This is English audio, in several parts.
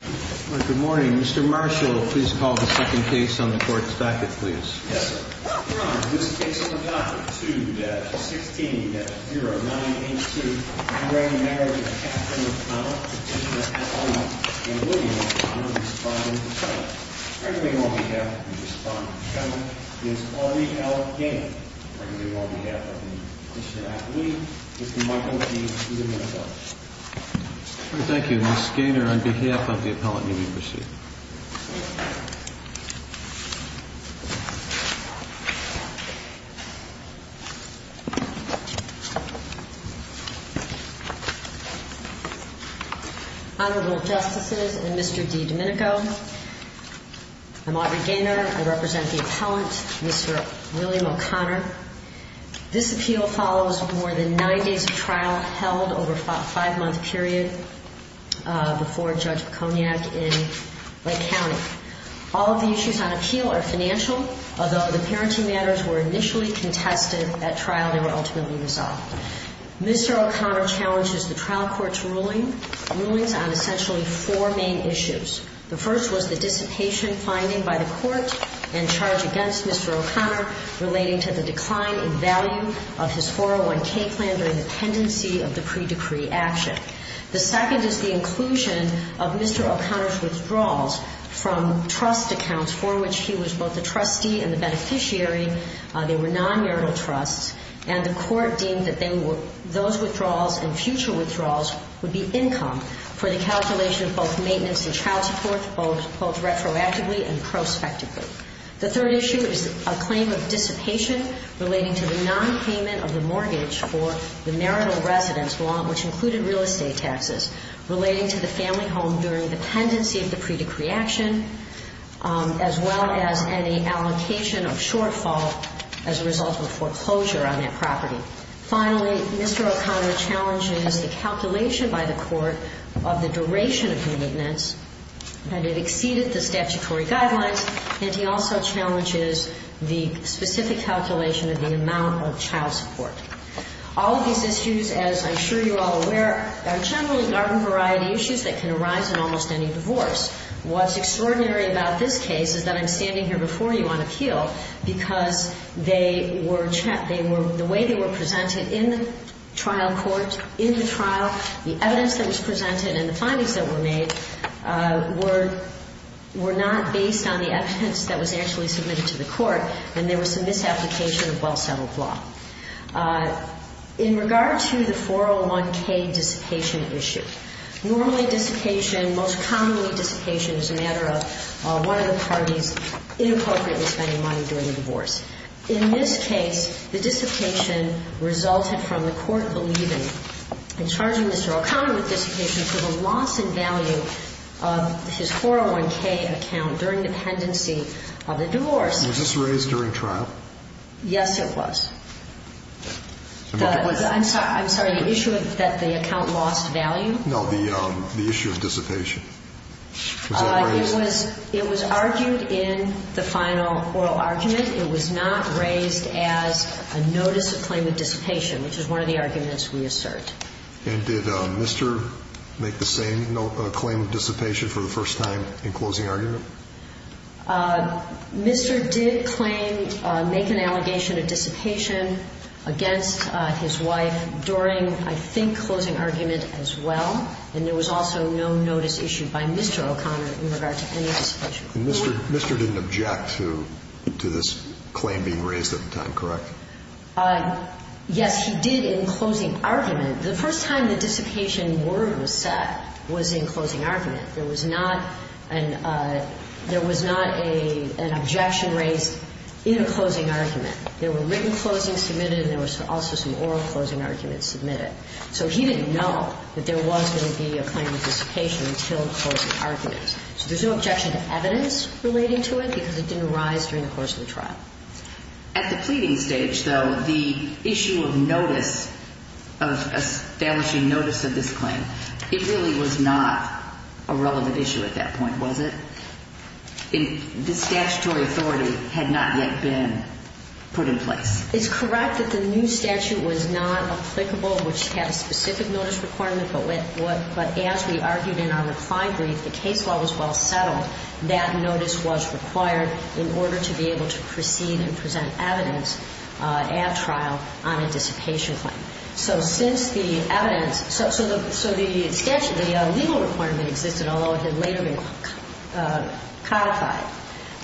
Good morning, Mr. Marshall. Please call the second case on the court's back. It please. Thank you, Mr Gainor, on behalf of the appellant. Honorable Justices and Mr. DiDomenico, I'm Audrey Gainor. I represent the appellant, Mr. William O'Connor. This appeal follows more than nine days of trial held over a five-month period before Judge Piconiak in Lake County. All of the issues on appeal are financial, although the parenting matters were initially contested at trial, they were ultimately resolved. Mr. O'Connor challenges the trial court's rulings on essentially four main issues. The first was the dissipation finding by the court and charge against Mr. O'Connor relating to the decline in value of his 401K plan during the pendency of the pre-decree action. The second is the inclusion of Mr. O'Connor's withdrawals from trust accounts for which he was both the trustee and the beneficiary. They were non-marital trusts and the court deemed that those withdrawals and future withdrawals would be income for the calculation of both maintenance and child support, both retroactively and prospectively. The third issue is a claim of dissipation relating to the non-payment of the mortgage for the marital residence which included real estate taxes relating to the family home during the pendency of the pre-decree action, as well as any allocation of shortfall as a result of foreclosure on that property. Finally, Mr. O'Connor challenges the calculation by the court of the duration of the maintenance and it exceeded the statutory guidelines, and he also challenges the specific calculation of the amount of child support. All of these issues, as I'm sure you're all aware, are generally garden variety issues that can arise in almost any divorce. What's extraordinary about this case is that I'm standing here before you on appeal because they were the way they were presented in the trial court, in the trial, the evidence that was presented and the findings that were made were not based on the evidence that was actually submitted to the court, and there was some misapplication of well-settled law. In regard to the 401k dissipation issue, normally dissipation and most commonly dissipation is a matter of one of the parties inappropriately spending money during the divorce. In this case, the dissipation resulted from the court believing and charging Mr. O'Connor with dissipation for the loss in value of his 401k account during the pendency of the divorce. Was this raised during trial? Yes, it was. I'm sorry, the issue that the account lost value? No, the issue of dissipation. It was argued in the final oral argument. It was not raised as a notice of claim of dissipation, which is one of the arguments we assert. And did Mr. make the same claim of dissipation for the first time in closing argument? Mr. did claim, make an allegation of dissipation against his wife during, I think, closing argument as well, and there was also no notice issued by Mr. O'Connor in regard to any dissipation. And Mr. didn't object to this claim being raised at the time, correct? Yes, he did in closing argument. The first time the dissipation word was set was in closing argument. There was not an objection raised in a closing argument. There were written closings submitted and there was also some oral closing arguments submitted. So he didn't know that there was going to be a claim of dissipation until the closing argument. So there's no objection to evidence relating to it because it didn't rise during the course of the trial. At the pleading stage, though, the issue of notice, of establishing notice of this claim, it really was not a relevant issue at that point, was it? The statutory authority had not yet been put in place. It's correct that the new statute was not applicable, which had a specific notice requirement, but as we argued in our reclined brief, the case law was well settled. That notice was required in order to be able to proceed and present evidence at trial on a dissipation claim. So since the evidence – so the statute, the legal requirement existed, although it had later been codified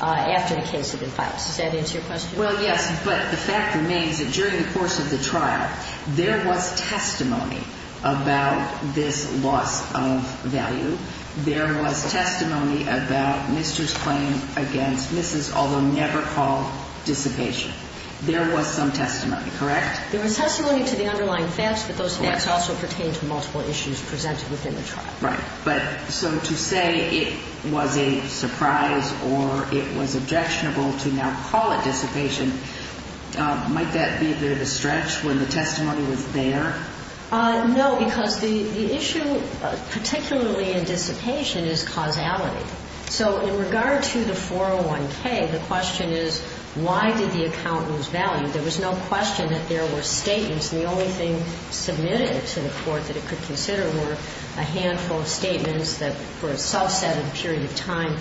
after the case had been filed. Does that answer your question? Well, yes. But the fact remains that during the course of the trial, there was testimony about this loss of value. There was testimony about Mr.'s claim against Mrs., although never called dissipation. There was some testimony, correct? There was testimony to the underlying facts, but those facts also pertain to multiple issues presented within the trial. Right. But so to say it was a surprise or it was objectionable to now call it dissipation, might that be a bit of a stretch when the testimony was there? No, because the issue, particularly in dissipation, is causality. So in regard to the 401K, the question is, why did the accountant lose value? There was no question that there were statements, and the only thing submitted to the court that it could consider were a handful of statements that were a subset of a period of time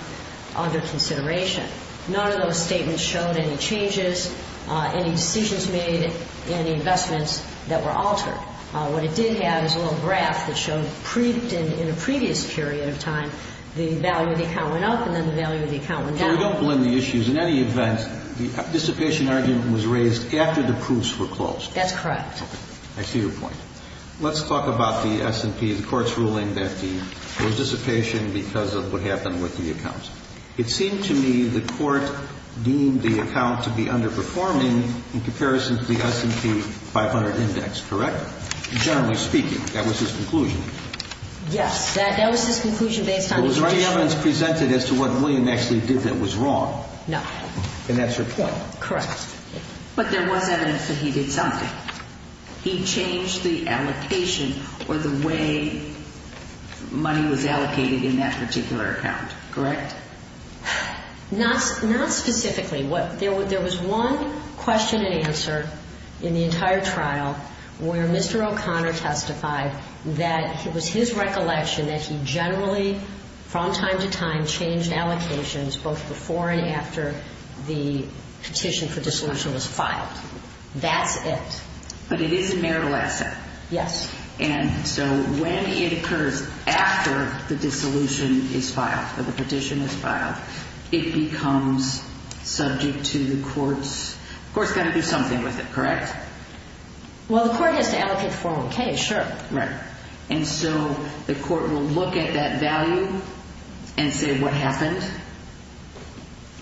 under consideration. None of those statements showed any changes, any decisions made, any investments that were altered. What it did have is a little graph that showed in a previous period of time the value of the account went up and then the value of the account went down. So you don't blend the issues. In any event, the dissipation argument was raised after the proofs were closed. That's correct. Okay. I see your point. Let's talk about the S&P, the court's ruling that there It seemed to me the court deemed the account to be underperforming in comparison to the S&P 500 index, correct? Generally speaking, that was his conclusion. Yes. That was his conclusion based on his judgment. There was no evidence presented as to what William actually did that was wrong. No. And that's your point. Correct. But there was evidence that he did something. He changed the allocation or the way money was allocated in that particular account, correct? Not specifically. There was one question and answer in the entire trial where Mr. O'Connor testified that it was his recollection that he generally, from time to time, changed allocations both before and after the petition for dissolution was filed. That's it. But it is a marital asset. Yes. And so when it occurs after the dissolution is filed or the petition is filed, it becomes subject to the court's, the court's got to do something with it, correct? Well, the court has to allocate 401K, sure. Right. And so the court will look at that value and say, what happened?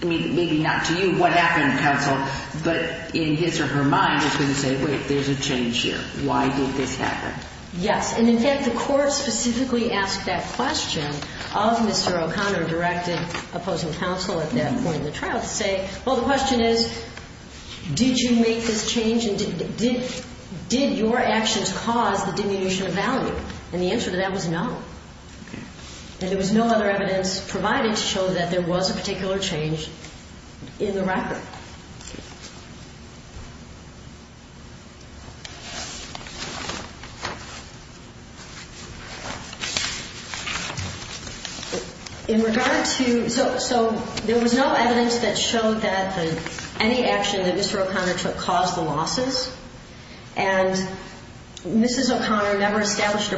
I mean, maybe not to you, what happened, counsel? But in his or her mind, it's something that the court has to do. And so the court will look at that value and say, wait, there's a change here. Why did this happen? Yes. And in fact, the court specifically asked that question of Mr. O'Connor, directed opposing counsel at that point in the trial, to say, well, the question is, did you make this change and did your actions cause the diminution of value? And the answer to that was no. Okay. And there was no other evidence provided to show that there was a particular change in the record. In regard to, so there was no evidence that showed that any action that Mr. O'Connor took caused the losses, and Mrs. O'Connor never established a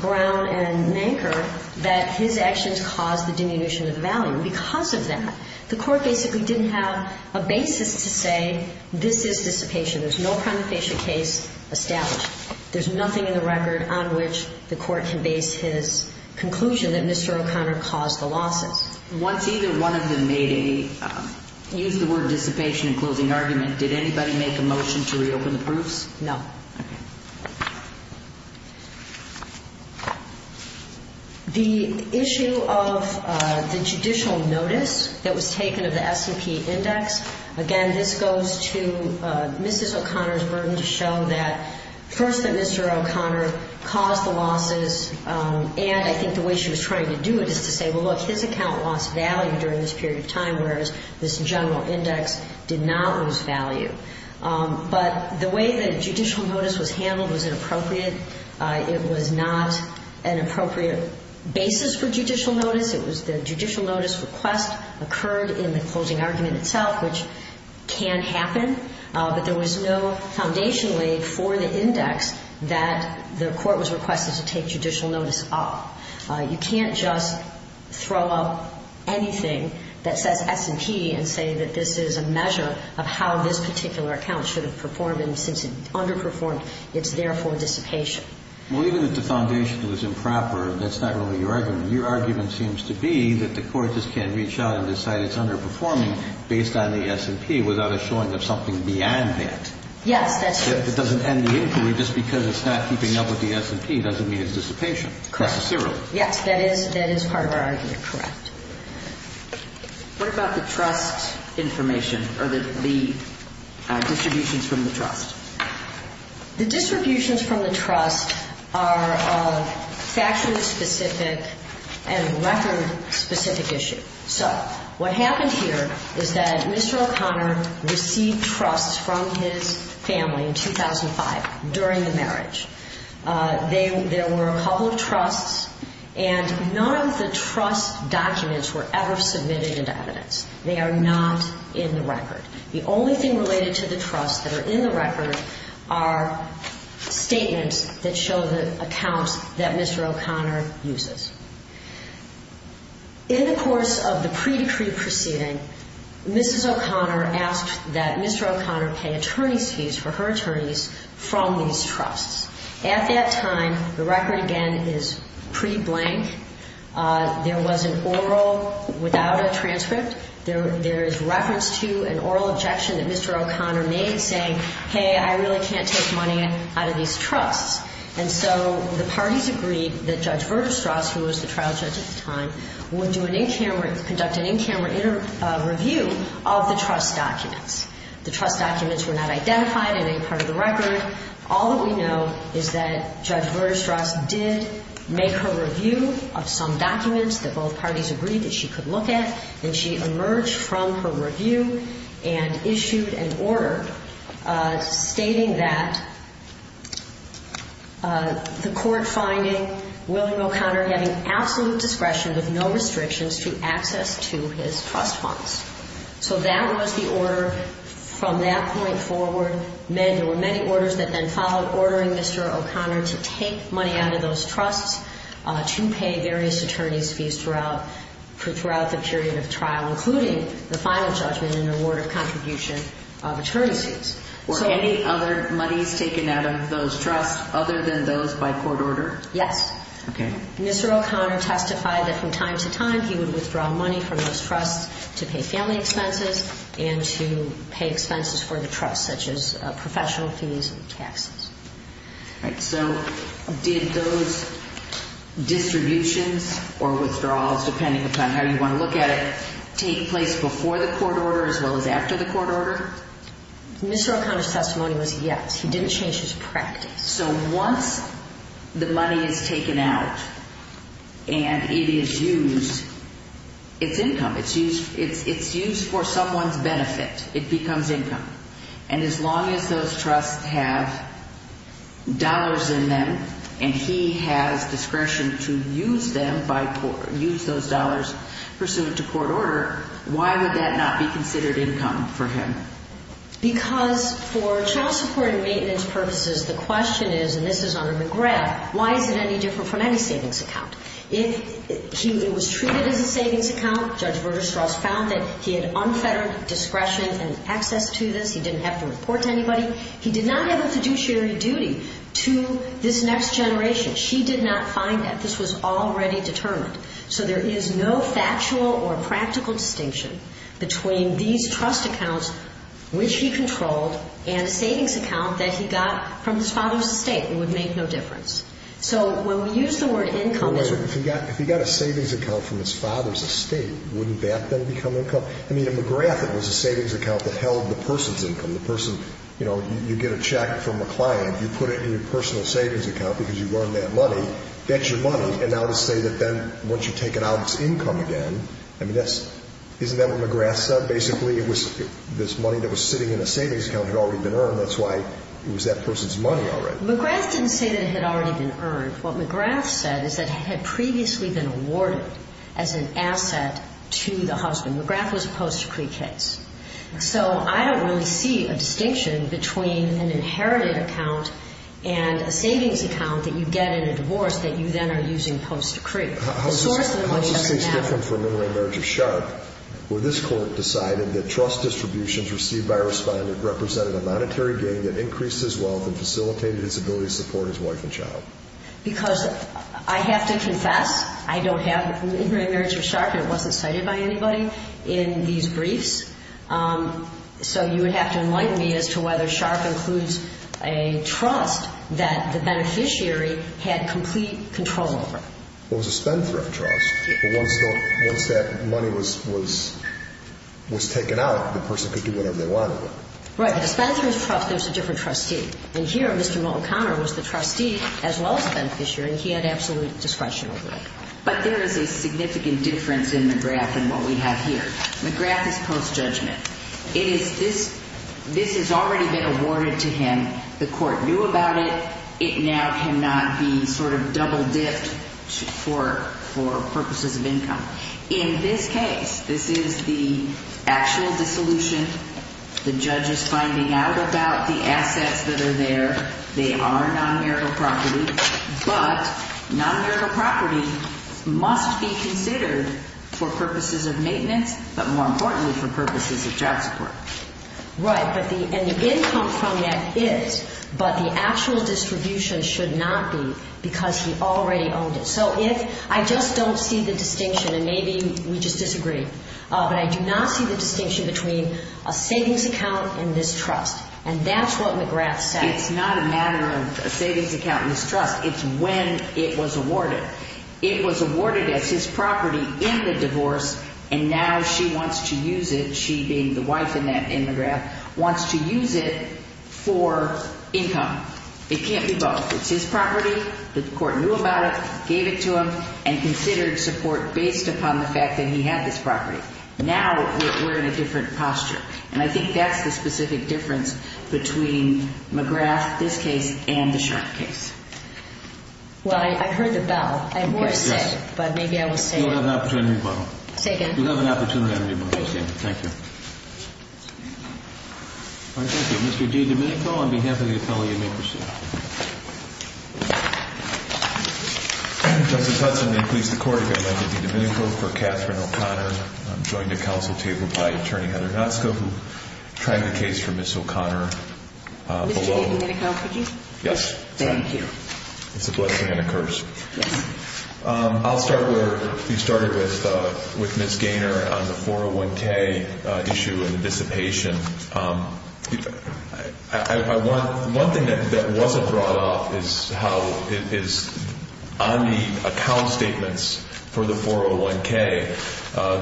ground and anchor that his actions caused the diminution of value. Because of that, the court basically didn't have a basis to say this is dissipation. There's no prima facie case established. There's nothing in the record on which the court can base his conclusion that Mr. O'Connor caused the losses. Once either one of them made a, used the word dissipation in closing argument, did anybody make a motion to reopen the proofs? No. Okay. The issue of the judicial notice that was taken of the S&P Index, again, this goes to Mrs. O'Connor's burden to show that, first, that Mr. O'Connor caused the losses, and I think the way she was trying to do it is to say, well, look, his account lost value during this period of time, whereas this general index did not lose value. But the way the judicial notice was handled was inappropriate. It was not an appropriate basis for judicial notice. It was the judicial notice request occurred in the closing argument itself, which can happen, but there was no foundation laid for the index that the court was requested to take judicial notice of. You can't just throw up anything that says S&P and say that this is a measure of how this particular account should have performed, and since it underperformed, it's therefore dissipation. Well, even if the foundation was improper, that's not really your argument. Your argument seems to be that the court just can't reach out and decide it's underperforming based on the S&P without a showing of something beyond that. Yes, that's true. If it doesn't end the inquiry just because it's not keeping up with the S&P doesn't mean it's dissipation. Correct. That's a zero. Yes, that is part of our argument. Correct. What about the trust information or the distributions from the trust? The distributions from the trust are a faction-specific and record-specific issue. So what happened here is that Mr. O'Connor received trusts from his family in 2005 during the marriage. There were a couple of trusts, and none of the trust documents were ever submitted into evidence. They are not in the record. The only thing related to the trusts that are in the record are statements that show the accounts that Mr. O'Connor uses. In the course of the pre-decree proceeding, Mrs. O'Connor asked that Mr. O'Connor pay attorney's fees for her attorneys from these trusts. At that time, the record again is pre-blank. There was an oral without a transcript. There is reference to an oral objection that Mr. O'Connor made saying, hey, I really can't take money out of these trusts. And so the parties agreed that Judge Verderstrauss, who was the trial judge at the time, would conduct an in-camera interview of the trust documents. The trust documents were not identified in any part of the record. All that we know is that Judge Verderstrauss did make her review of some documents that both parties agreed that she could look at, and she emerged from her review and issued an order stating that the court finding William O'Connor having absolute discretion with no restrictions to access to his trust funds. So that was the order from that point forward. There were many orders that then followed ordering Mr. O'Connor to take money out of those trusts to pay various attorney's fees throughout the period of trial, including the final judgment and award of contribution of attorney's fees. Were any other monies taken out of those trusts other than those by court order? Yes. Okay. Mr. O'Connor testified that from time to time he would withdraw money from those family expenses and to pay expenses for the trust, such as professional fees and taxes. All right. So did those distributions or withdrawals, depending upon how you want to look at it, take place before the court order as well as after the court order? Mr. O'Connor's testimony was yes. He didn't change his practice. So once the money is taken out and it is used, it's income. It's used for someone's benefit. It becomes income. And as long as those trusts have dollars in them and he has discretion to use those dollars pursuant to court order, why would that not be considered income for him? Because for child support and maintenance purposes, the question is, and this is under McGrath, why is it any different from any savings account? It was treated as a savings account. Judge Berger-Strauss found that he had unfettered discretion and access to this. He didn't have to report to anybody. He did not have a fiduciary duty to this next generation. She did not find that. This was already determined. So there is no factual or practical distinction between these trust accounts, which he controlled, and a savings account that he got from his father's estate. It would make no difference. So when we use the word income as a... If he got a savings account from his father's estate, wouldn't that then become income? I mean, at McGrath, it was a savings account that held the person's income. The person, you know, you get a check from a client, you put it in your personal savings account because you've earned that money. That's your money. And now to say that then once you take it out, it's income again, I mean, isn't that what McGrath said? Basically, it was this money that was sitting in a savings account had already been earned. That's why it was that person's money already. McGrath didn't say that it had already been earned. What McGrath said is that it had previously been awarded as an asset to the husband. McGrath was a post-decree case. So I don't really see a distinction between an inherited account and a savings account that you get in a divorce that you then are using post-decree. The source of the money... How does this case differ from for a minority marriage of Sharpe, where this court decided that trust distributions received by a respondent represented a monetary gain that increased his wealth and facilitated his ability to support his wife and child? Because I have to confess, I don't have... When we were in marriage with Sharpe, it wasn't cited by anybody in these briefs. So you would have to enlighten me as to whether Sharpe includes a trust that the beneficiary had complete control over. Well, it was a spendthrift trust. Once that money was taken out, the person could do whatever they wanted with it. Right. The spendthrift trust, there's a different trustee. And here, Mr. Mullen-Connor was the trustee as well as the beneficiary, and he had absolute discretion over it. But there is a significant difference in McGrath than what we have here. McGrath is post-judgment. This has already been awarded to him. The court knew about it. It now cannot be sort of double-dipped for purposes of income. In this case, this is the actual dissolution. The judge is finding out about the assets that are there. They are non-marital property. But non-marital property must be considered for purposes of maintenance, but more importantly for purposes of job support. Right. And the income from that is, but the actual distribution should not be because he already owned it. So if I just don't see the distinction, and maybe we just disagree, but I do not see the distinction between a savings account and this trust. And that's what McGrath said. It's not a matter of a savings account and this trust. It's when it was awarded. It was awarded as his property in the divorce, and now she wants to use it, she being the wife in McGrath, wants to use it for income. It can't be both. It's his property. The court knew about it, gave it to him, and considered support based upon the fact that he had this property. Now we're in a different posture. And I think that's the specific difference between McGrath, this case, and the Sharpe case. Well, I heard the bell. I'm more upset, but maybe I will say it. You'll have an opportunity to rebuttal. Say again. You'll have an opportunity to rebuttal. Thank you. All right, thank you. Mr. D. Domenico, on behalf of the appellee, you may proceed. Thank you. Justice Hudson, I'm going to please the Court if I may be Domenico for Kathryn O'Connor. I'm joined at counsel table by Attorney Heather Natsako who tried the case for Ms. O'Connor. Mr. Domenico, could you? Yes. Thank you. It's a blessing and a curse. Yes. I'll start where you started with Ms. Gaynor on the 401K issue and the dissipation. One thing that wasn't brought up is how on the account statements for the 401K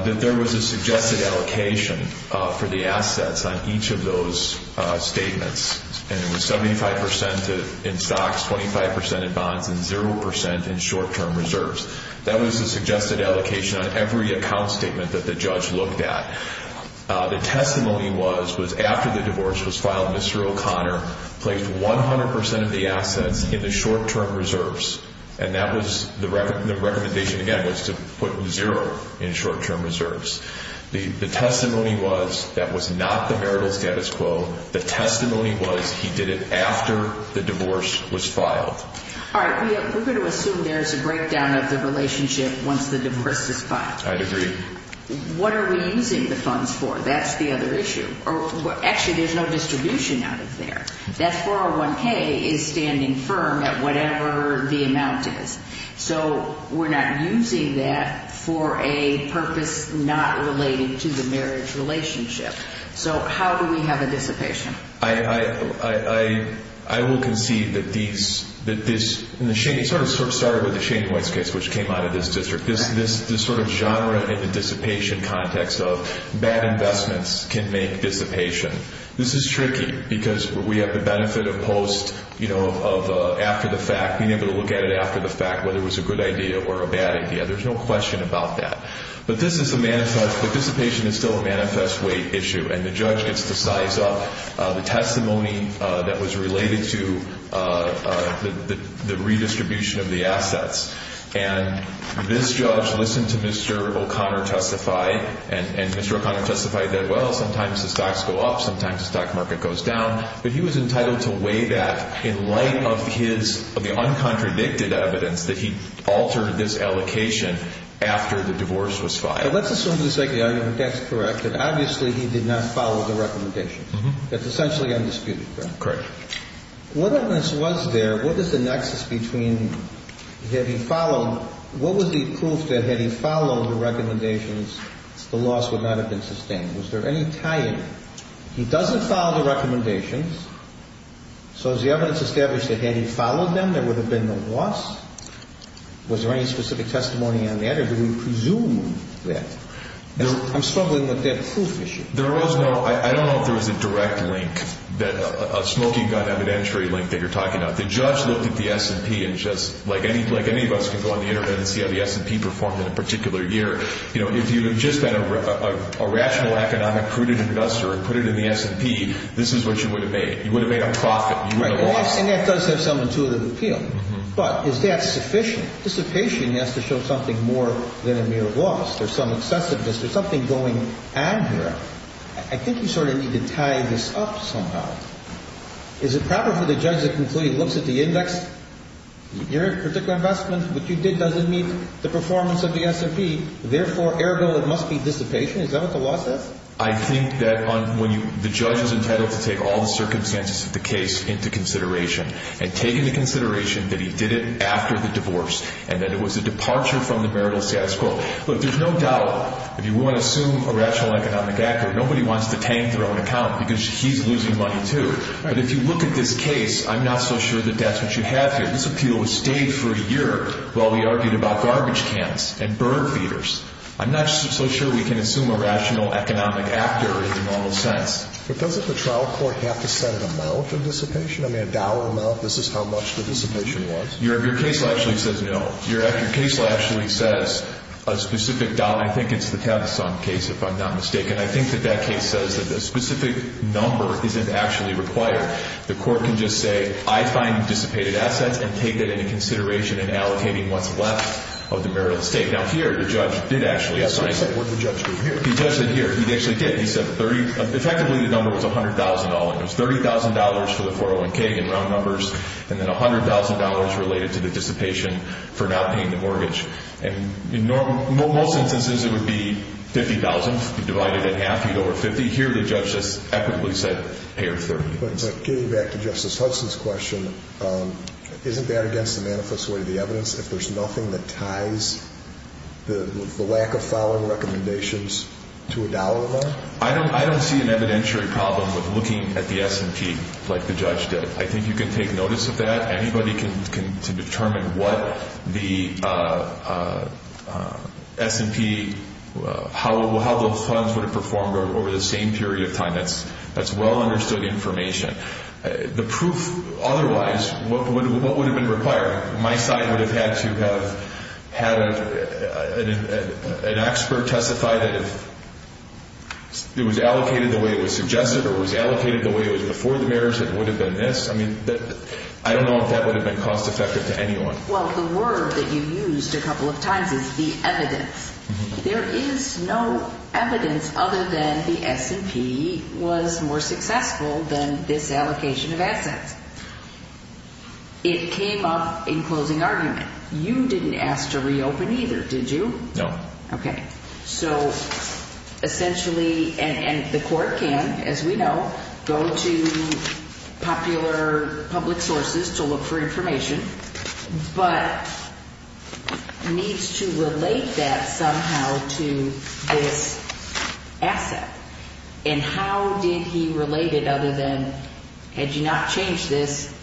that there was a suggested allocation for the assets on each of those statements. And it was 75% in stocks, 25% in bonds, and 0% in short-term reserves. That was a suggested allocation on every account statement that the judge looked at. The testimony was, was after the divorce was filed, Mr. O'Connor placed 100% of the assets in the short-term reserves. And that was the recommendation, again, was to put zero in short-term reserves. The testimony was that was not the marital status quo. The testimony was he did it after the divorce was filed. All right. We're going to assume there's a breakdown of the relationship once the divorce is filed. I'd agree. What are we using the funds for? That's the other issue. Actually, there's no distribution out of there. That 401K is standing firm at whatever the amount is. So we're not using that for a purpose not related to the marriage relationship. So how do we have a dissipation? I will concede that this, and it sort of started with the Shane White case, which came out of this district, this sort of genre in the dissipation context of bad investments can make dissipation. This is tricky because we have the benefit of post, you know, of after the fact, being able to look at it after the fact, whether it was a good idea or a bad idea. There's no question about that. But this is a manifest, the dissipation is still a manifest weight issue, and the judge gets to size up the testimony that was related to the redistribution of the assets. And this judge listened to Mr. O'Connor testify, and Mr. O'Connor testified that, well, sometimes the stocks go up, sometimes the stock market goes down. But he was entitled to weigh that in light of his uncontradicted evidence that he altered this allocation after the divorce was filed. So let's assume he's saying the argument that's correct, that obviously he did not follow the recommendations. That's essentially undisputed, correct? Correct. What evidence was there? What is the nexus between, had he followed, what was the proof that had he followed the recommendations, the loss would not have been sustained? Was there any tie in? He doesn't follow the recommendations, so is the evidence established that had he followed them, there would have been no loss? Was there any specific testimony on that, or do we presume that? I'm struggling with that proof issue. There was no, I don't know if there was a direct link, a smoking gun evidentiary link that you're talking about. The judge looked at the S&P and just, like any of us can go on the Internet and see how the S&P performed in a particular year. If you had just been a rational, economic, prudent investor and put it in the S&P, this is what you would have made. You would have made a profit. And that does have some intuitive appeal. But is that sufficient? Dissipation has to show something more than a mere loss. There's some excessiveness. There's something going on here. I think you sort of need to tie this up somehow. Is it proper for the judge to conclude he looks at the index? Your particular investment, what you did, doesn't meet the performance of the S&P. Therefore, ergo, it must be dissipation. Is that what the law says? I think that when you, the judge is entitled to take all the circumstances of the case into consideration and take into consideration that he did it after the divorce and that it was a departure from the marital status quo. Look, there's no doubt if you want to assume a rational, economic actor, nobody wants to tank their own account because he's losing money too. But if you look at this case, I'm not so sure that that's what you have here. This appeal has stayed for a year while we argued about garbage cans and bird feeders. I'm not so sure we can assume a rational, economic actor in the normal sense. But doesn't the trial court have to set an amount of dissipation? I mean, a dollar amount? This is how much the dissipation was? Your case law actually says no. Your case law actually says a specific dollar. I think it's the Tavisong case, if I'm not mistaken. I think that that case says that a specific number isn't actually required. The court can just say, I find dissipated assets and take that into consideration in allocating what's left of the marital estate. Now, here, the judge did actually assign it. Where did the judge go? He judged it here. He actually did. He said effectively the number was $100,000. It was $30,000 for the 401K in round numbers and then $100,000 related to the dissipation for not paying the mortgage. In most instances, it would be $50,000. You divide it in half, you get over $50,000. Here, the judge just equitably said pay her $30,000. Getting back to Justice Hudson's question, isn't that against the manifest way of the evidence if there's nothing that ties the lack of following recommendations to a dollar amount? I don't see an evidentiary problem with looking at the S&P like the judge did. I think you can take notice of that. Anybody can determine what the S&P, how the funds would have performed over the same period of time. That's well understood information. The proof otherwise, what would have been required? My side would have had to have had an expert testify that if it was allocated the way it was suggested or was allocated the way it was before the marriage, it would have been this. I don't know if that would have been cost effective to anyone. The word that you used a couple of times is the evidence. There is no evidence other than the S&P was more successful than this allocation of assets. It came up in closing argument. You didn't ask to reopen either, did you? No. Okay. So essentially, and the court can, as we know, go to popular public sources to look for information, but needs to relate that somehow to this asset. And how did he relate it other than had you not changed this,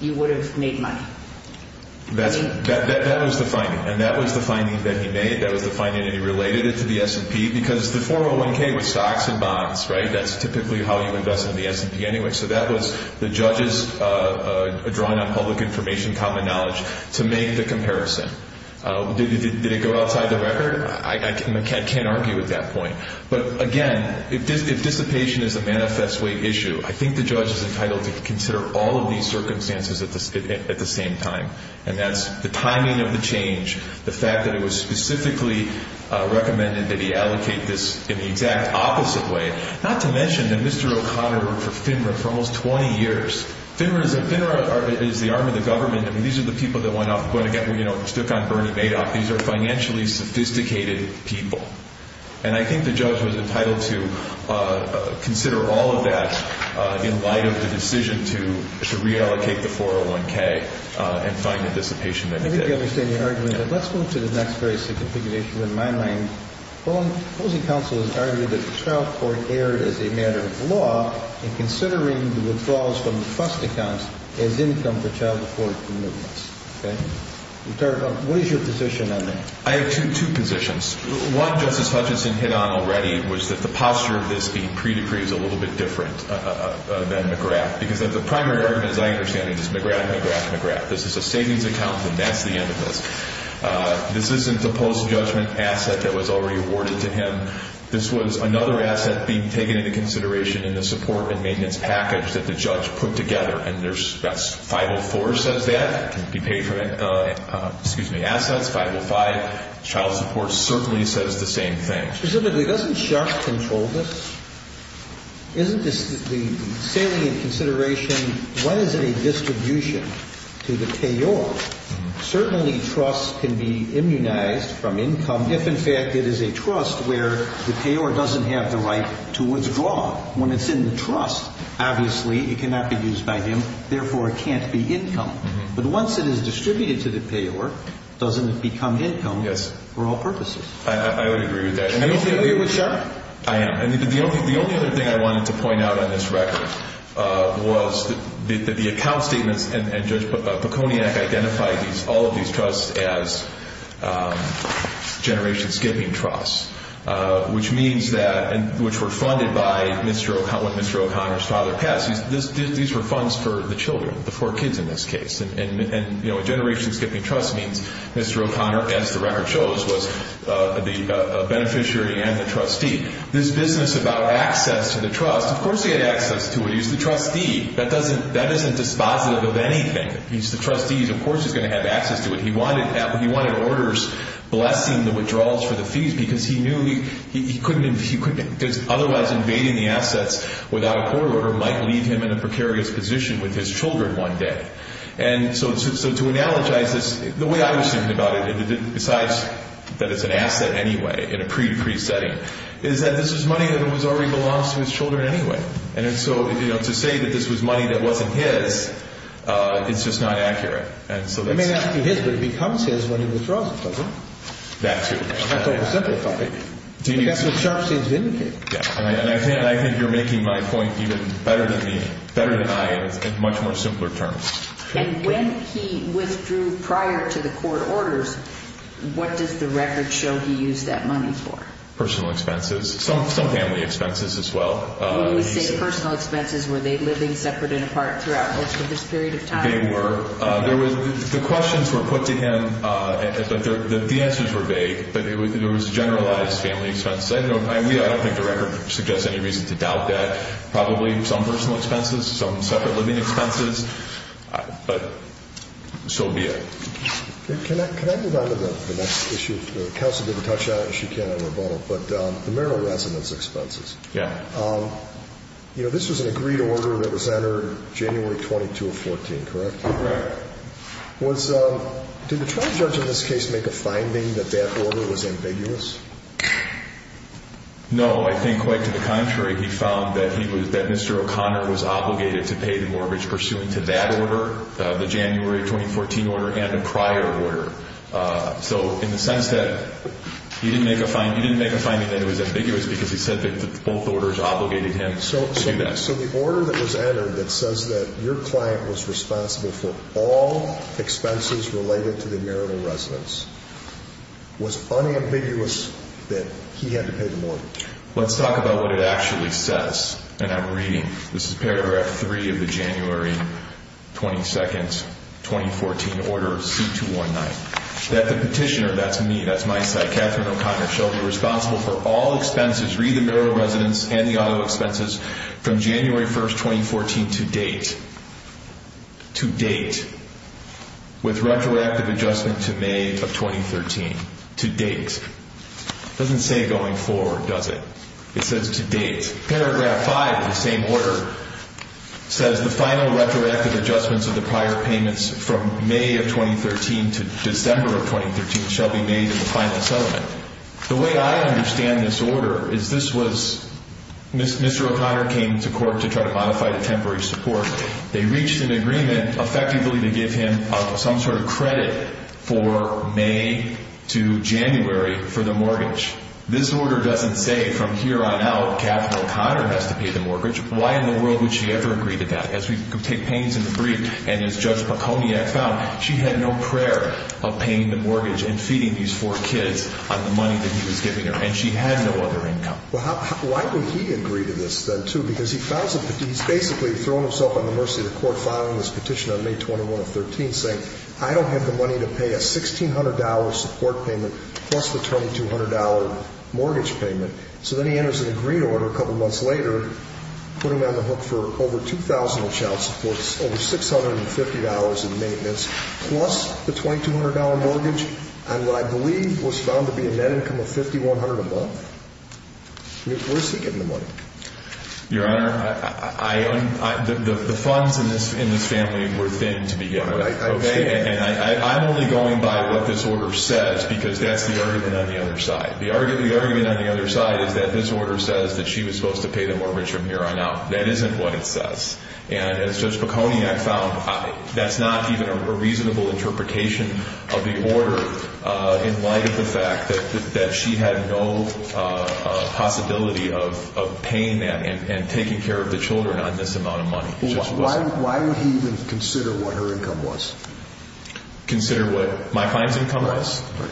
you would have made money? That was the finding. And that was the finding that he made. That was the finding that he related it to the S&P because the 401K was stocks and bonds, right? That's typically how you invest in the S&P anyway. So that was the judge's drawing on public information common knowledge to make the comparison. Did it go outside the record? I can't argue with that point. But again, if dissipation is a manifest way issue, I think the judge is entitled to consider all of these circumstances at the same time, and that's the timing of the change, the fact that it was specifically recommended that he allocate this in the exact opposite way, not to mention that Mr. O'Connor worked for FINRA for almost 20 years. FINRA is the arm of the government. I mean, these are the people that went off and, again, stuck on Bernie Madoff. These are financially sophisticated people. And I think the judge was entitled to consider all of that in light of the decision to reallocate the 401K and find the dissipation that he did. Let me understand your argument. Let's move to the next very significant issue. In my mind, opposing counsel has argued that the child court erred as a matter of law in considering the withdrawals from the FUST accounts as income for child support commitments. Okay? What is your position on that? I have two positions. One, Justice Hutchinson hit on already, was that the posture of this being pre-decree is a little bit different than McGrath, because the primary argument, as I understand it, is McGrath, McGrath, McGrath. This is a savings account, and that's the end of this. This isn't the post-judgment asset that was already awarded to him. This was another asset being taken into consideration in the support and maintenance package that the judge put together, and that's 504 says that. It can be paid for in assets, 505. Child support certainly says the same thing. Specifically, doesn't Sharp control this? Isn't the salient consideration, when is it a distribution to the payor? Certainly, trust can be immunized from income if, in fact, it is a trust where the payor doesn't have the right to withdraw. When it's in the trust, obviously, it cannot be used by him. Therefore, it can't be income. But once it is distributed to the payor, doesn't it become income for all purposes? I would agree with that. Do you agree with Sharp? I am. The only other thing I wanted to point out on this record was that the account statements, and Judge Peconiak identified all of these trusts as generation-skipping trusts, which were funded by when Mr. O'Connor's father passed. These were funds for the children, the four kids in this case. And a generation-skipping trust means Mr. O'Connor, as the record shows, was the beneficiary and the trustee. This business about access to the trust, of course he had access to it. He's the trustee. That isn't dispositive of anything. He's the trustee. Of course he's going to have access to it. He wanted orders blessing the withdrawals for the fees because he knew otherwise invading the assets without a court order might leave him in a precarious position with his children one day. And so to analogize this, the way I was thinking about it, besides that it's an asset anyway in a pre-decrease setting, is that this is money that already belongs to his children anyway. And so to say that this was money that wasn't his, it's just not accurate. It may not be his, but it becomes his when he withdraws it, doesn't it? That too. That's oversimplified. That's what Sharfstein's vindicated. And I think you're making my point even better than I am in much more simpler terms. And when he withdrew prior to the court orders, what does the record show he used that money for? Personal expenses. Some family expenses as well. When you say personal expenses, were they living separate and apart throughout most of this period of time? They were. The questions were put to him, but the answers were vague. But it was generalized family expenses. I don't think the record suggests any reason to doubt that. Probably some personal expenses, some separate living expenses, but so be it. Can I move on to the next issue? The counsel didn't touch on it, and she can in a moment, but the marital residence expenses. Yeah. You know, this was an agreed order that was entered January 22 of 2014, correct? Correct. Did the trial judge in this case make a finding that that order was ambiguous? No. I think quite to the contrary. He found that Mr. O'Connor was obligated to pay the mortgage pursuant to that order, the January 2014 order and a prior order. So in the sense that he didn't make a finding that it was ambiguous because he said that both orders obligated him to do that. So the order that was entered that says that your client was responsible for all expenses related to the marital residence was unambiguous that he had to pay the mortgage. Let's talk about what it actually says in that reading. This is paragraph 3 of the January 22, 2014 order of C-219. That the petitioner, that's me, that's my site, Catherine O'Connor, shall be responsible for all expenses related to marital residence and the auto expenses from January 1, 2014 to date. To date. With retroactive adjustment to May of 2013. To date. Doesn't say going forward, does it? It says to date. Paragraph 5 of the same order says the final retroactive adjustments of the prior payments from May of 2013 to December of 2013 shall be made in the final settlement. The way I understand this order is this was, Mr. O'Connor came to court to try to modify the temporary support. They reached an agreement effectively to give him some sort of credit for May to January for the mortgage. This order doesn't say from here on out Catherine O'Connor has to pay the mortgage. Why in the world would she ever agree to that? As we take pains in the brief and as Judge Poconi found, she had no prayer of paying the mortgage and feeding these four kids on the money that he was giving her. And she had no other income. Why would he agree to this then too? Because he's basically throwing himself on the mercy of the court filing this petition on May 21 of 2013 saying, I don't have the money to pay a $1,600 support payment plus the $2,200 mortgage payment. So then he enters in a green order a couple months later, put him on the hook for over $2,000 of child support, over $650 in maintenance plus the $2,200 mortgage on what I believe was found to be a net income of $5,100 a month. Where is he getting the money? Your Honor, the funds in this family were thin to begin with. And I'm only going by what this order says because that's the argument on the other side. The argument on the other side is that this order says that she was supposed to pay the mortgage from here on out. That isn't what it says. And as Judge Poconi found, that's not even a reasonable interpretation of the order in light of the fact that she had no possibility of paying that and taking care of the children on this amount of money. Why would he even consider what her income was? Consider what my client's income was? Right.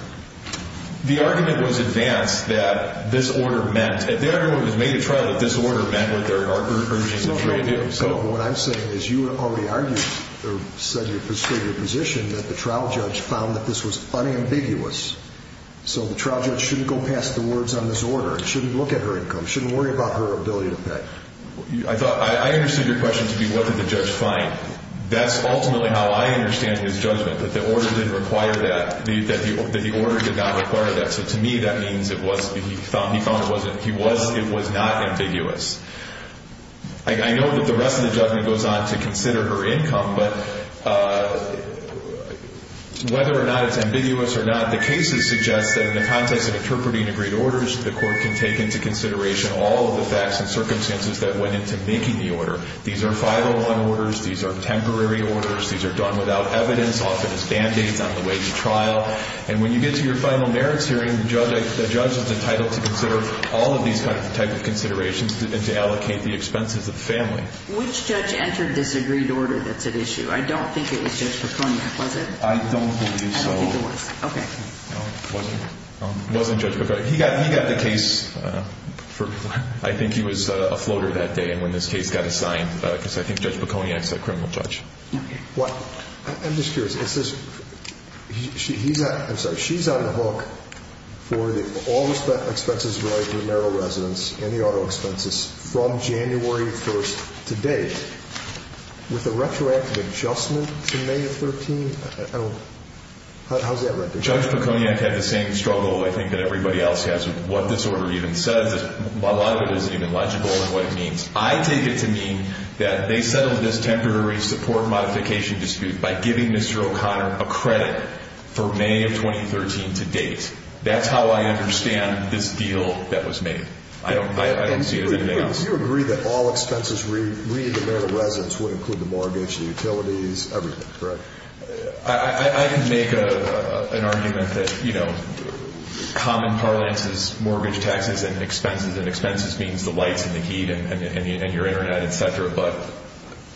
The argument was advanced that this order meant, the argument was made at trial that this order meant what there are other things that she may do. What I'm saying is you already argued or said your position that the trial judge found that this was unambiguous. So the trial judge shouldn't go past the words on this order and shouldn't look at her income, shouldn't worry about her ability to pay. I thought, I understood your question to be what did the judge find. That's ultimately how I understand his judgment, that the order didn't require that, that the order did not require that. So to me that means it was, he found it wasn't, he was, it was not ambiguous. I know that the rest of the judgment goes on to consider her income, but whether or not it's ambiguous or not, the cases suggest that in the context of interpreting agreed orders, the court can take into consideration all of the facts and circumstances that went into making the order. These are 501 orders. These are temporary orders. These are done without evidence, often as band-aids on the way to trial. And when you get to your final merits hearing, the judge is entitled to consider all of these types of considerations and to allocate the expenses of the family. Which judge entered this agreed order that's at issue? I don't think it was Judge Pecone. Was it? I don't believe so. I don't think it was. Okay. It wasn't Judge Pecone. He got the case for, I think he was a floater that day when this case got assigned, because I think Judge Pecone asked that criminal judge. I'm just curious. Is this, he's, I'm sorry, she's on the hook for all the expenses related to narrow residence and the auto expenses from January 1st to date with a retroactive adjustment to May 13th? How's that retroactive? Judge Pecone had the same struggle, I think, that everybody else has with what this order even says. A lot of it isn't even legible and what it means. I take it to mean that they settled this temporary support modification dispute by giving Mr. O'Connor a credit for May of 2013 to date. That's how I understand this deal that was made. I don't see it as anything else. Do you agree that all expenses re-demand of residence would include the mortgage, the utilities, everything, correct? I can make an argument that, you know, common parlance is mortgage taxes and expenses, and expenses means the lights and the heat and your Internet, et cetera. But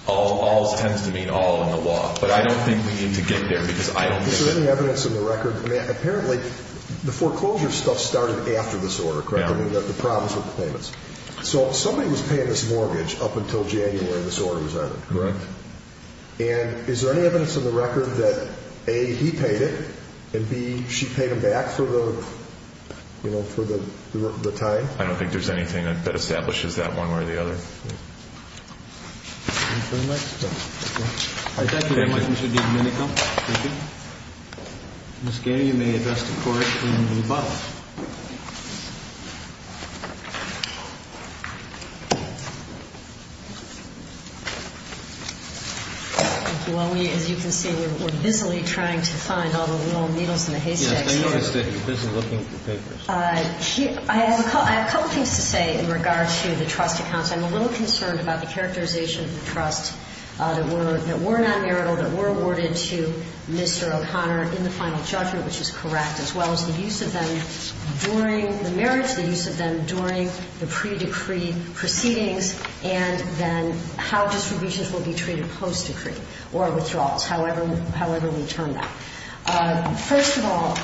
all tends to mean all in the law. But I don't think we need to get there because I don't think. Is there any evidence in the record, apparently the foreclosure stuff started after this order, correct? Yeah. I mean, the problems with the payments. So somebody was paying this mortgage up until January this order was added. Correct. And is there any evidence in the record that A, he paid it and B, she paid him back for the, you know, for the time? I don't think there's anything that establishes that one way or the other. Thank you very much, Mr. Domenico. Thank you. Ms. Gaynor, you may address the Court in the above. Thank you. While we, as you can see, we're busily trying to find all the little needles in the haystacks here. Yes, I noticed that you're busy looking for papers. I have a couple things to say in regards to the trust accounts. I'm a little concerned about the characterization of the trust that were not marital, that were awarded to Mr. O'Connor in the final judgment, which is correct, as well as the use of them during the marriage, the use of them during the pre-decree proceedings, and then how distributions will be treated post-decree or withdrawals, however we term that. First of all,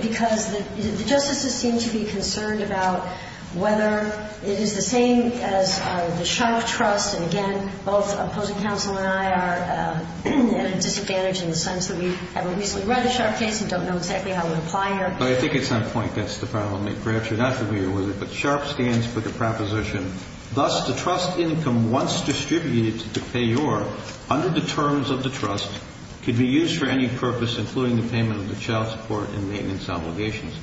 because the justices seem to be concerned about whether it is the same as the Sharpe trust, and again, both opposing counsel and I are at a disadvantage in the sense that we haven't recently read the Sharpe case and don't know exactly how it would apply here. I think it's on point. That's the problem. Perhaps you're not familiar with it, but Sharpe stands for the proposition, thus the trust income once distributed to pay your, under the terms of the trust, could be used for any purpose, including the payment of the child support and maintenance obligations.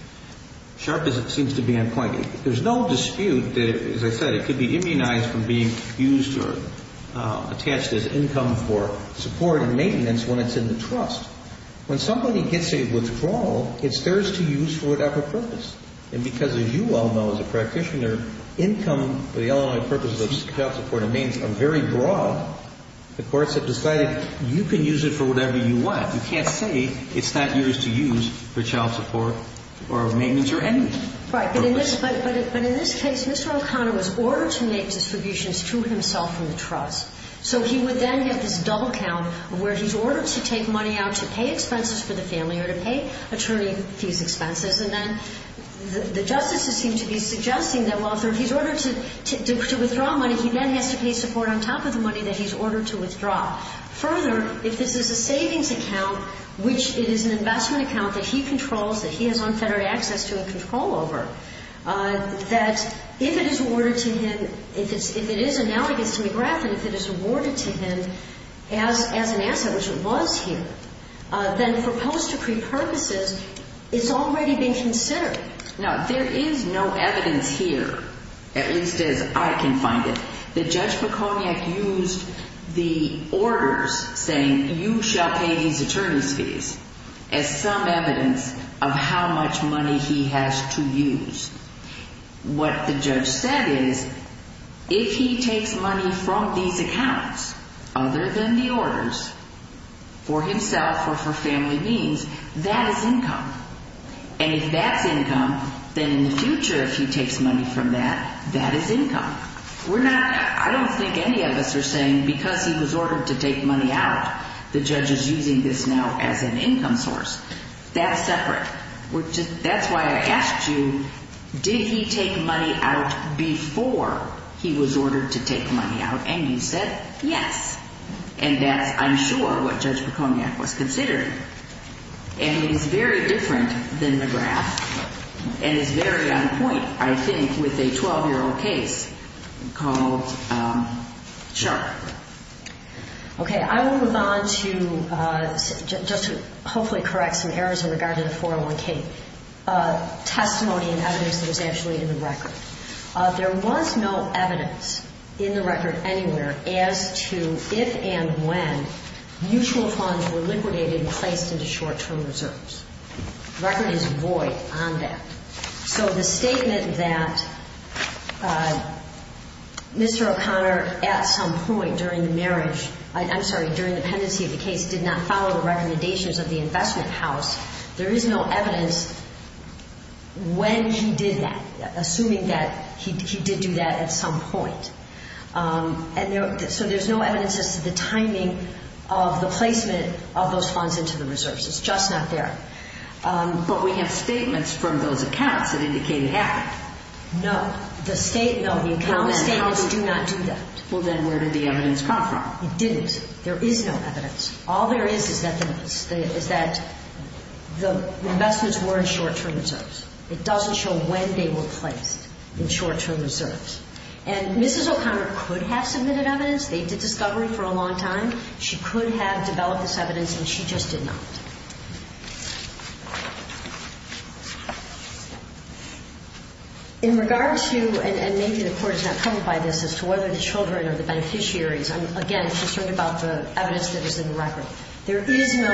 Sharpe seems to be on point. There's no dispute that, as I said, it could be immunized from being used or attached as income for support and maintenance when it's in the trust. When somebody gets a withdrawal, it's theirs to use for whatever purpose. And because, as you well know as a practitioner, income for the only purposes of child support and maintenance are very broad, the courts have decided you can use it for whatever you want. You can't say it's not yours to use for child support or maintenance or any purpose. Right. But in this case, Mr. O'Connor was ordered to make distributions to himself from the trust. So he would then get this double count where he's ordered to take money out to pay expenses for the family or to pay attorney fees expenses. And then the justices seem to be suggesting that, well, if he's ordered to withdraw money, he then has to pay support on top of the money that he's ordered to withdraw. Further, if this is a savings account, which it is an investment account that he controls, that he has unfettered access to and control over, that if it is awarded to him, if it is analogous to McGrath and if it is awarded to him as an asset, which it was here, then for post-decree purposes, it's already been considered. Now, there is no evidence here, at least as I can find it, that Judge McCormack used the orders saying you shall pay these attorney fees as some evidence of how much money he has to use. What the judge said is if he takes money from these accounts other than the orders for himself or for family means, that is income. And if that's income, then in the future, if he takes money from that, that is income. We're not – I don't think any of us are saying because he was ordered to take money out, the judge is using this now as an income source. That's separate. That's why I asked you, did he take money out before he was ordered to take money out? And you said yes. And that's, I'm sure, what Judge McCormack was considering. And it is very different than McGrath and it's very on point, I think, with a 12-year-old case called Sharp. Okay. I will move on to just to hopefully correct some errors in regard to the 401k testimony and evidence that was actually in the record. There was no evidence in the record anywhere as to if and when mutual funds were liquidated and placed into short-term reserves. The record is void on that. So the statement that Mr. O'Connor, at some point during the marriage, I'm sorry, during the pendency of the case, did not follow the recommendations of the investment house, there is no evidence when he did that, assuming that he did do that at some point. So there's no evidence as to the timing of the placement of those funds into the reserves. It's just not there. But we have statements from those accounts that indicate it happened. No. The statements do not do that. Well, then where did the evidence come from? It didn't. There is no evidence. All there is is that the investments were in short-term reserves. It doesn't show when they were placed in short-term reserves. And Mrs. O'Connor could have submitted evidence. They did discovery for a long time. She could have developed this evidence and she just did not. In regards to, and maybe the Court is not covered by this, as to whether the children are the beneficiaries, I'm, again, concerned about the evidence that is in the record. There is no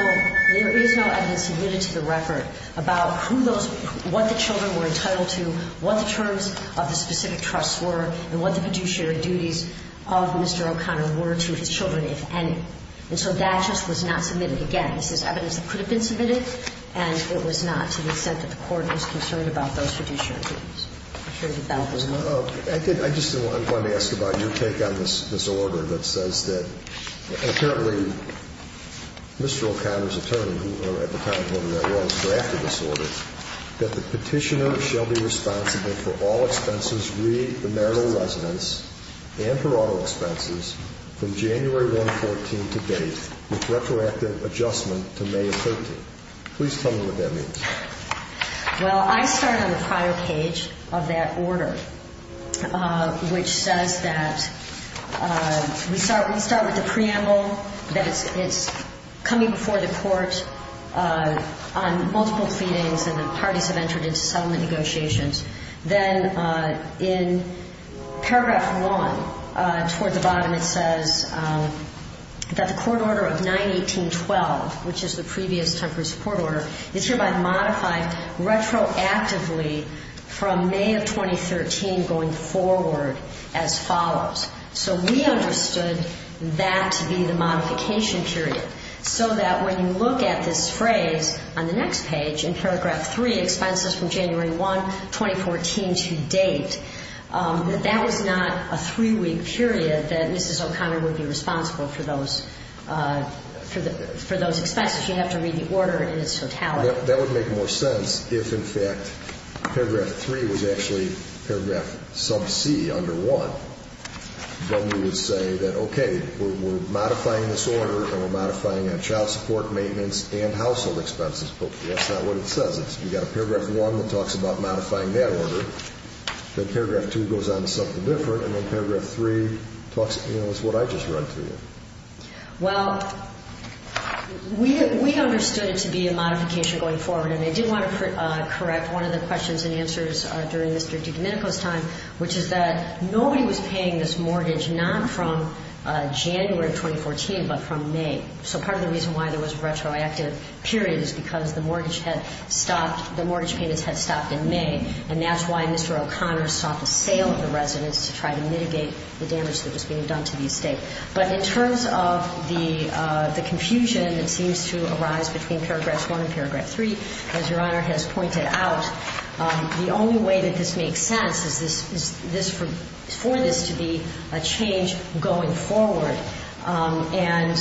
evidence submitted to the record about who those, what the children were entitled to, what the terms of the specific trusts were, and what the fiduciary duties of Mr. O'Connor were to his children, if any. And so that just was not submitted. Again, this is evidence that could have been submitted, and it was not to the extent that the Court was concerned about those fiduciary duties. I'm sure that that was not. I did, I just, I'm going to ask about your take on this order that says that apparently Mr. O'Connor's attorney, who at the time wasn't that well, has drafted this order that the Petitioner shall be responsible for all expenses which read the marital residence and her auto expenses from January 114 to date, with retroactive adjustment to May 13. Please tell me what that means. Well, I started on the prior page of that order, which says that we start with the preamble, that it's coming before the Court on multiple feedings, and the parties have entered into settlement negotiations. Then in Paragraph 1, towards the bottom it says that the court order of 918.12, which is the previous temporary support order, is hereby modified retroactively from May of 2013 going forward as follows. So we understood that to be the modification period, so that when you look at this phrase on the next page in Paragraph 3, the expenses from January 1, 2014 to date, that that was not a three-week period that Mrs. O'Connor would be responsible for those expenses. You'd have to read the order in its totality. That would make more sense if, in fact, Paragraph 3 was actually Paragraph sub-C under 1. Then you would say that, okay, we're modifying this order and we're modifying it on child support, maintenance, and household expenses. Okay, that's not what it says. We've got a Paragraph 1 that talks about modifying that order. Then Paragraph 2 goes on to something different, and then Paragraph 3 talks, you know, it's what I just read to you. Well, we understood it to be a modification going forward, and I did want to correct one of the questions and answers during Mr. DiGennico's time, which is that nobody was paying this mortgage not from January of 2014 but from May. So part of the reason why there was a retroactive period is because the mortgage had stopped, the mortgage payments had stopped in May, and that's why Mr. O'Connor sought the sale of the residence to try to mitigate the damage that was being done to the estate. But in terms of the confusion that seems to arise between Paragraph 1 and Paragraph 3, as Your Honor has pointed out, the only way that this makes sense is for this to be a change going forward. And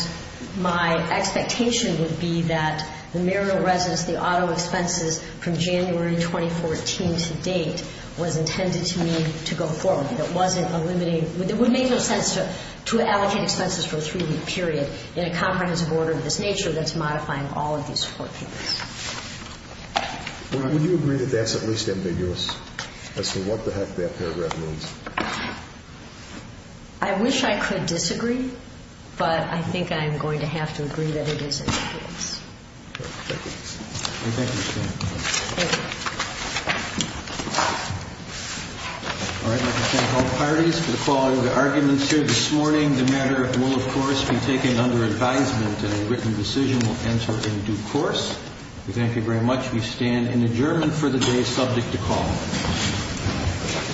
my expectation would be that the marital residence, the auto expenses from January 2014 to date was intended to me to go forward. It wasn't a limiting – it would make no sense to allocate expenses for a 3-week period in a comprehensive order of this nature that's modifying all of these support payments. Well, would you agree that that's at least ambiguous as to what the heck that paragraph means? I wish I could disagree, but I think I'm going to have to agree that it is ambiguous. Thank you, Your Honor. Thank you. All right, I'd like to thank all parties for calling the arguments here this morning. The matter will, of course, be taken under advisement, and a written decision will answer in due course. We thank you very much. We stand in adjournment for the day subject to call.